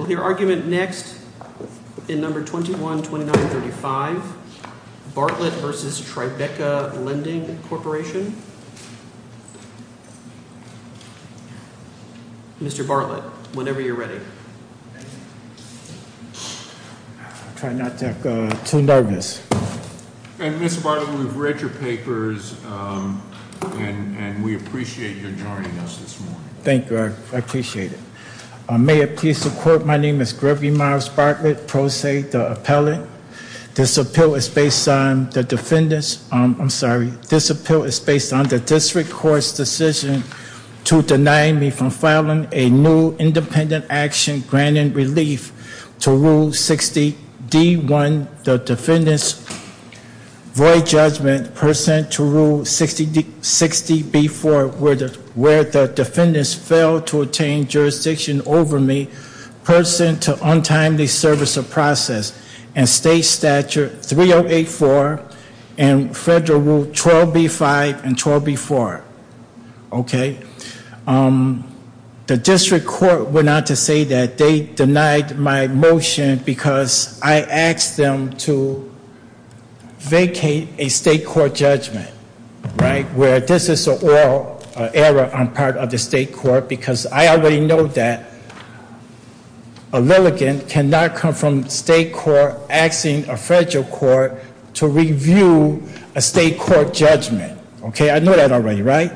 We'll hear argument next in No. 21-2935. Bartlett v. Tribeca Lending Corporation. Mr. Bartlett, whenever you're ready. I'll try not to get too nervous. Mr. Bartlett, we've read your papers and we appreciate your joining us this morning. Thank you, I appreciate it. May it please the court, my name is Gregory Myles Bartlett, pro se, the appellate. This appeal is based on the defendant's, I'm sorry, this appeal is based on the district court's decision to deny me from filing a new independent action granting relief to Rule 60D1, the defendant's void judgment, pursuant to Rule 60B4, where the defendant failed to attain jurisdiction over me, pursuant to untimely service of process and state statute 3084 and federal Rule 12B5 and 12B4. Okay, the district court went on to say that they denied my motion because I asked them to vacate a state court judgment, right, where this is an oral error on part of the state court because I already know that a litigant cannot come from state court asking a federal court to review a state court judgment. Okay, I know that already, right?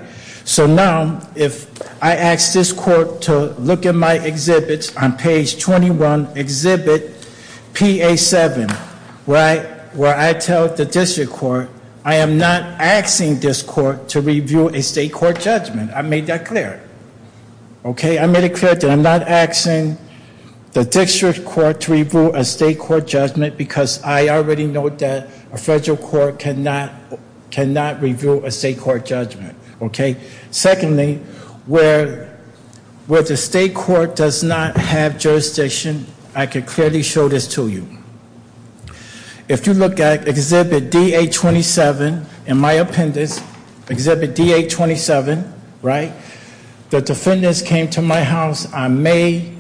So now, if I ask this court to look at my exhibits on page 21, exhibit PA7, where I tell the district court, I am not asking this court to review a state court judgment. I made that clear. Okay, I made it clear that I'm not asking the district court to review a state court judgment because I already know that a federal court cannot review a state court judgment. Okay? Secondly, where the state court does not have jurisdiction, I can clearly show this to you. If you look at exhibit D827 in my appendix, exhibit D827, right, the defendants came to my house on May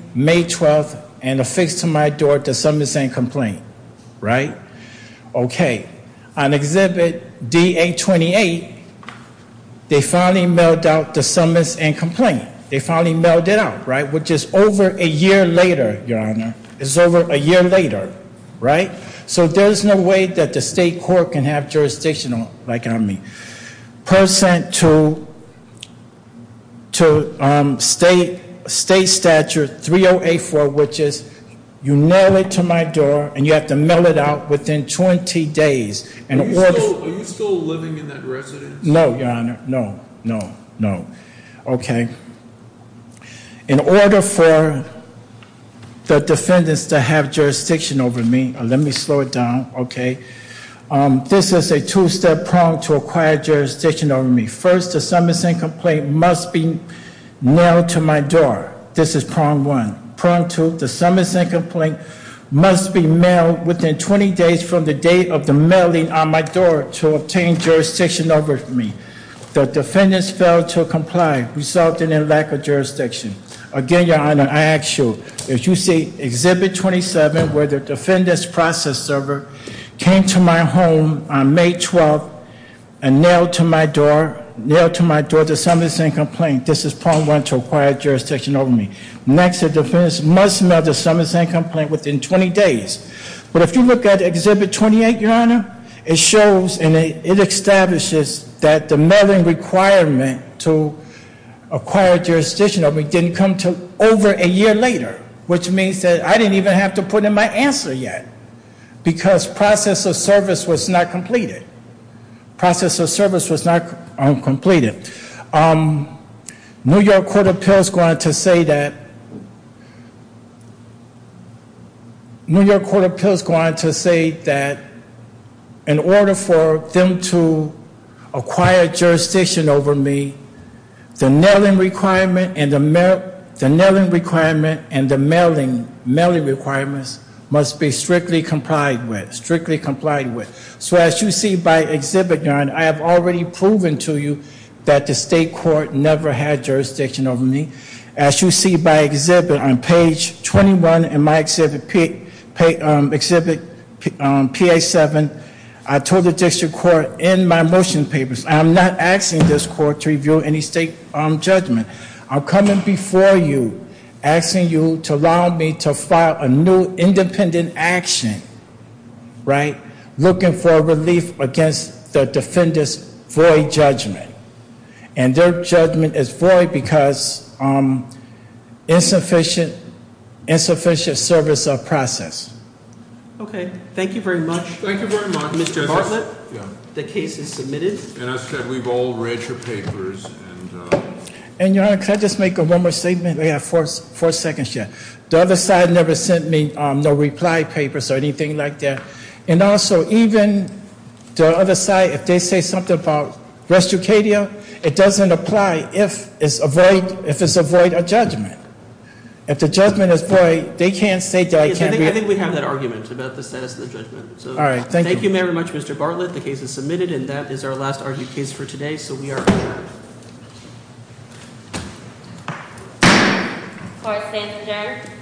12 and affixed to my door the summons and complaint, right? Okay, on exhibit D828, they finally mailed out the summons and complaint. They finally mailed it out, right, which is over a year later, Your Honor. It's over a year later, right? So there's no way that the state court can have jurisdiction on, like I mean, percent to state statute 3084, which is you nail it to my door and you have to mail it out within 20 days. Are you still living in that residence? No, Your Honor. No, no, no. Okay. In order for the defendants to have jurisdiction over me, let me slow it down, okay? This is a two-step prong to acquire jurisdiction over me. First, the summons and complaint must be mailed to my door. This is prong one. Prong two, the summons and complaint must be mailed within 20 days from the date of the mailing on my door to obtain jurisdiction over me. The defendants failed to comply, resulting in lack of jurisdiction. Again, Your Honor, I ask you, if you see exhibit 27 where the defendants process server came to my home on May 12 and nailed to my door, nailed to my door the summons and complaint, this is prong one to acquire jurisdiction over me. Next, the defendants must mail the summons and complaint within 20 days. But if you look at exhibit 28, Your Honor, it shows and it establishes that the mailing requirement to acquire jurisdiction over me didn't come until over a year later, which means that I didn't even have to put in my answer yet because process of service was not completed. Process of service was not completed. New York Court of Appeals going to say that, New York Court of Appeals going to say that in order for them to acquire jurisdiction over me, the nailing requirement and the mailing requirements must be strictly complied with, strictly complied with. So as you see by exhibit, Your Honor, I have already proven to you that the state court never had jurisdiction over me. As you see by exhibit on page 21 in my exhibit, exhibit PA7, I told the district court in my motion papers, I'm not asking this court to review any state judgment. I'm coming before you asking you to allow me to file a new independent action, right? Looking for relief against the defendants' void judgment. And their judgment is void because insufficient service of process. Okay, thank you very much. Thank you very much. Mr. Bartlett, the case is submitted. And as I said, we've all read your papers and- And Your Honor, can I just make one more statement? We have four seconds yet. The other side never sent me no reply papers or anything like that. And also, even the other side, if they say something about restriction, it doesn't apply if it's a void judgment. If the judgment is void, they can't say that it can't be- I think we have that argument about the status of the judgment. All right, thank you. Thank you very much, Mr. Bartlett. The case is submitted. And that is our last argued case for today. So we are adjourned. Court is adjourned.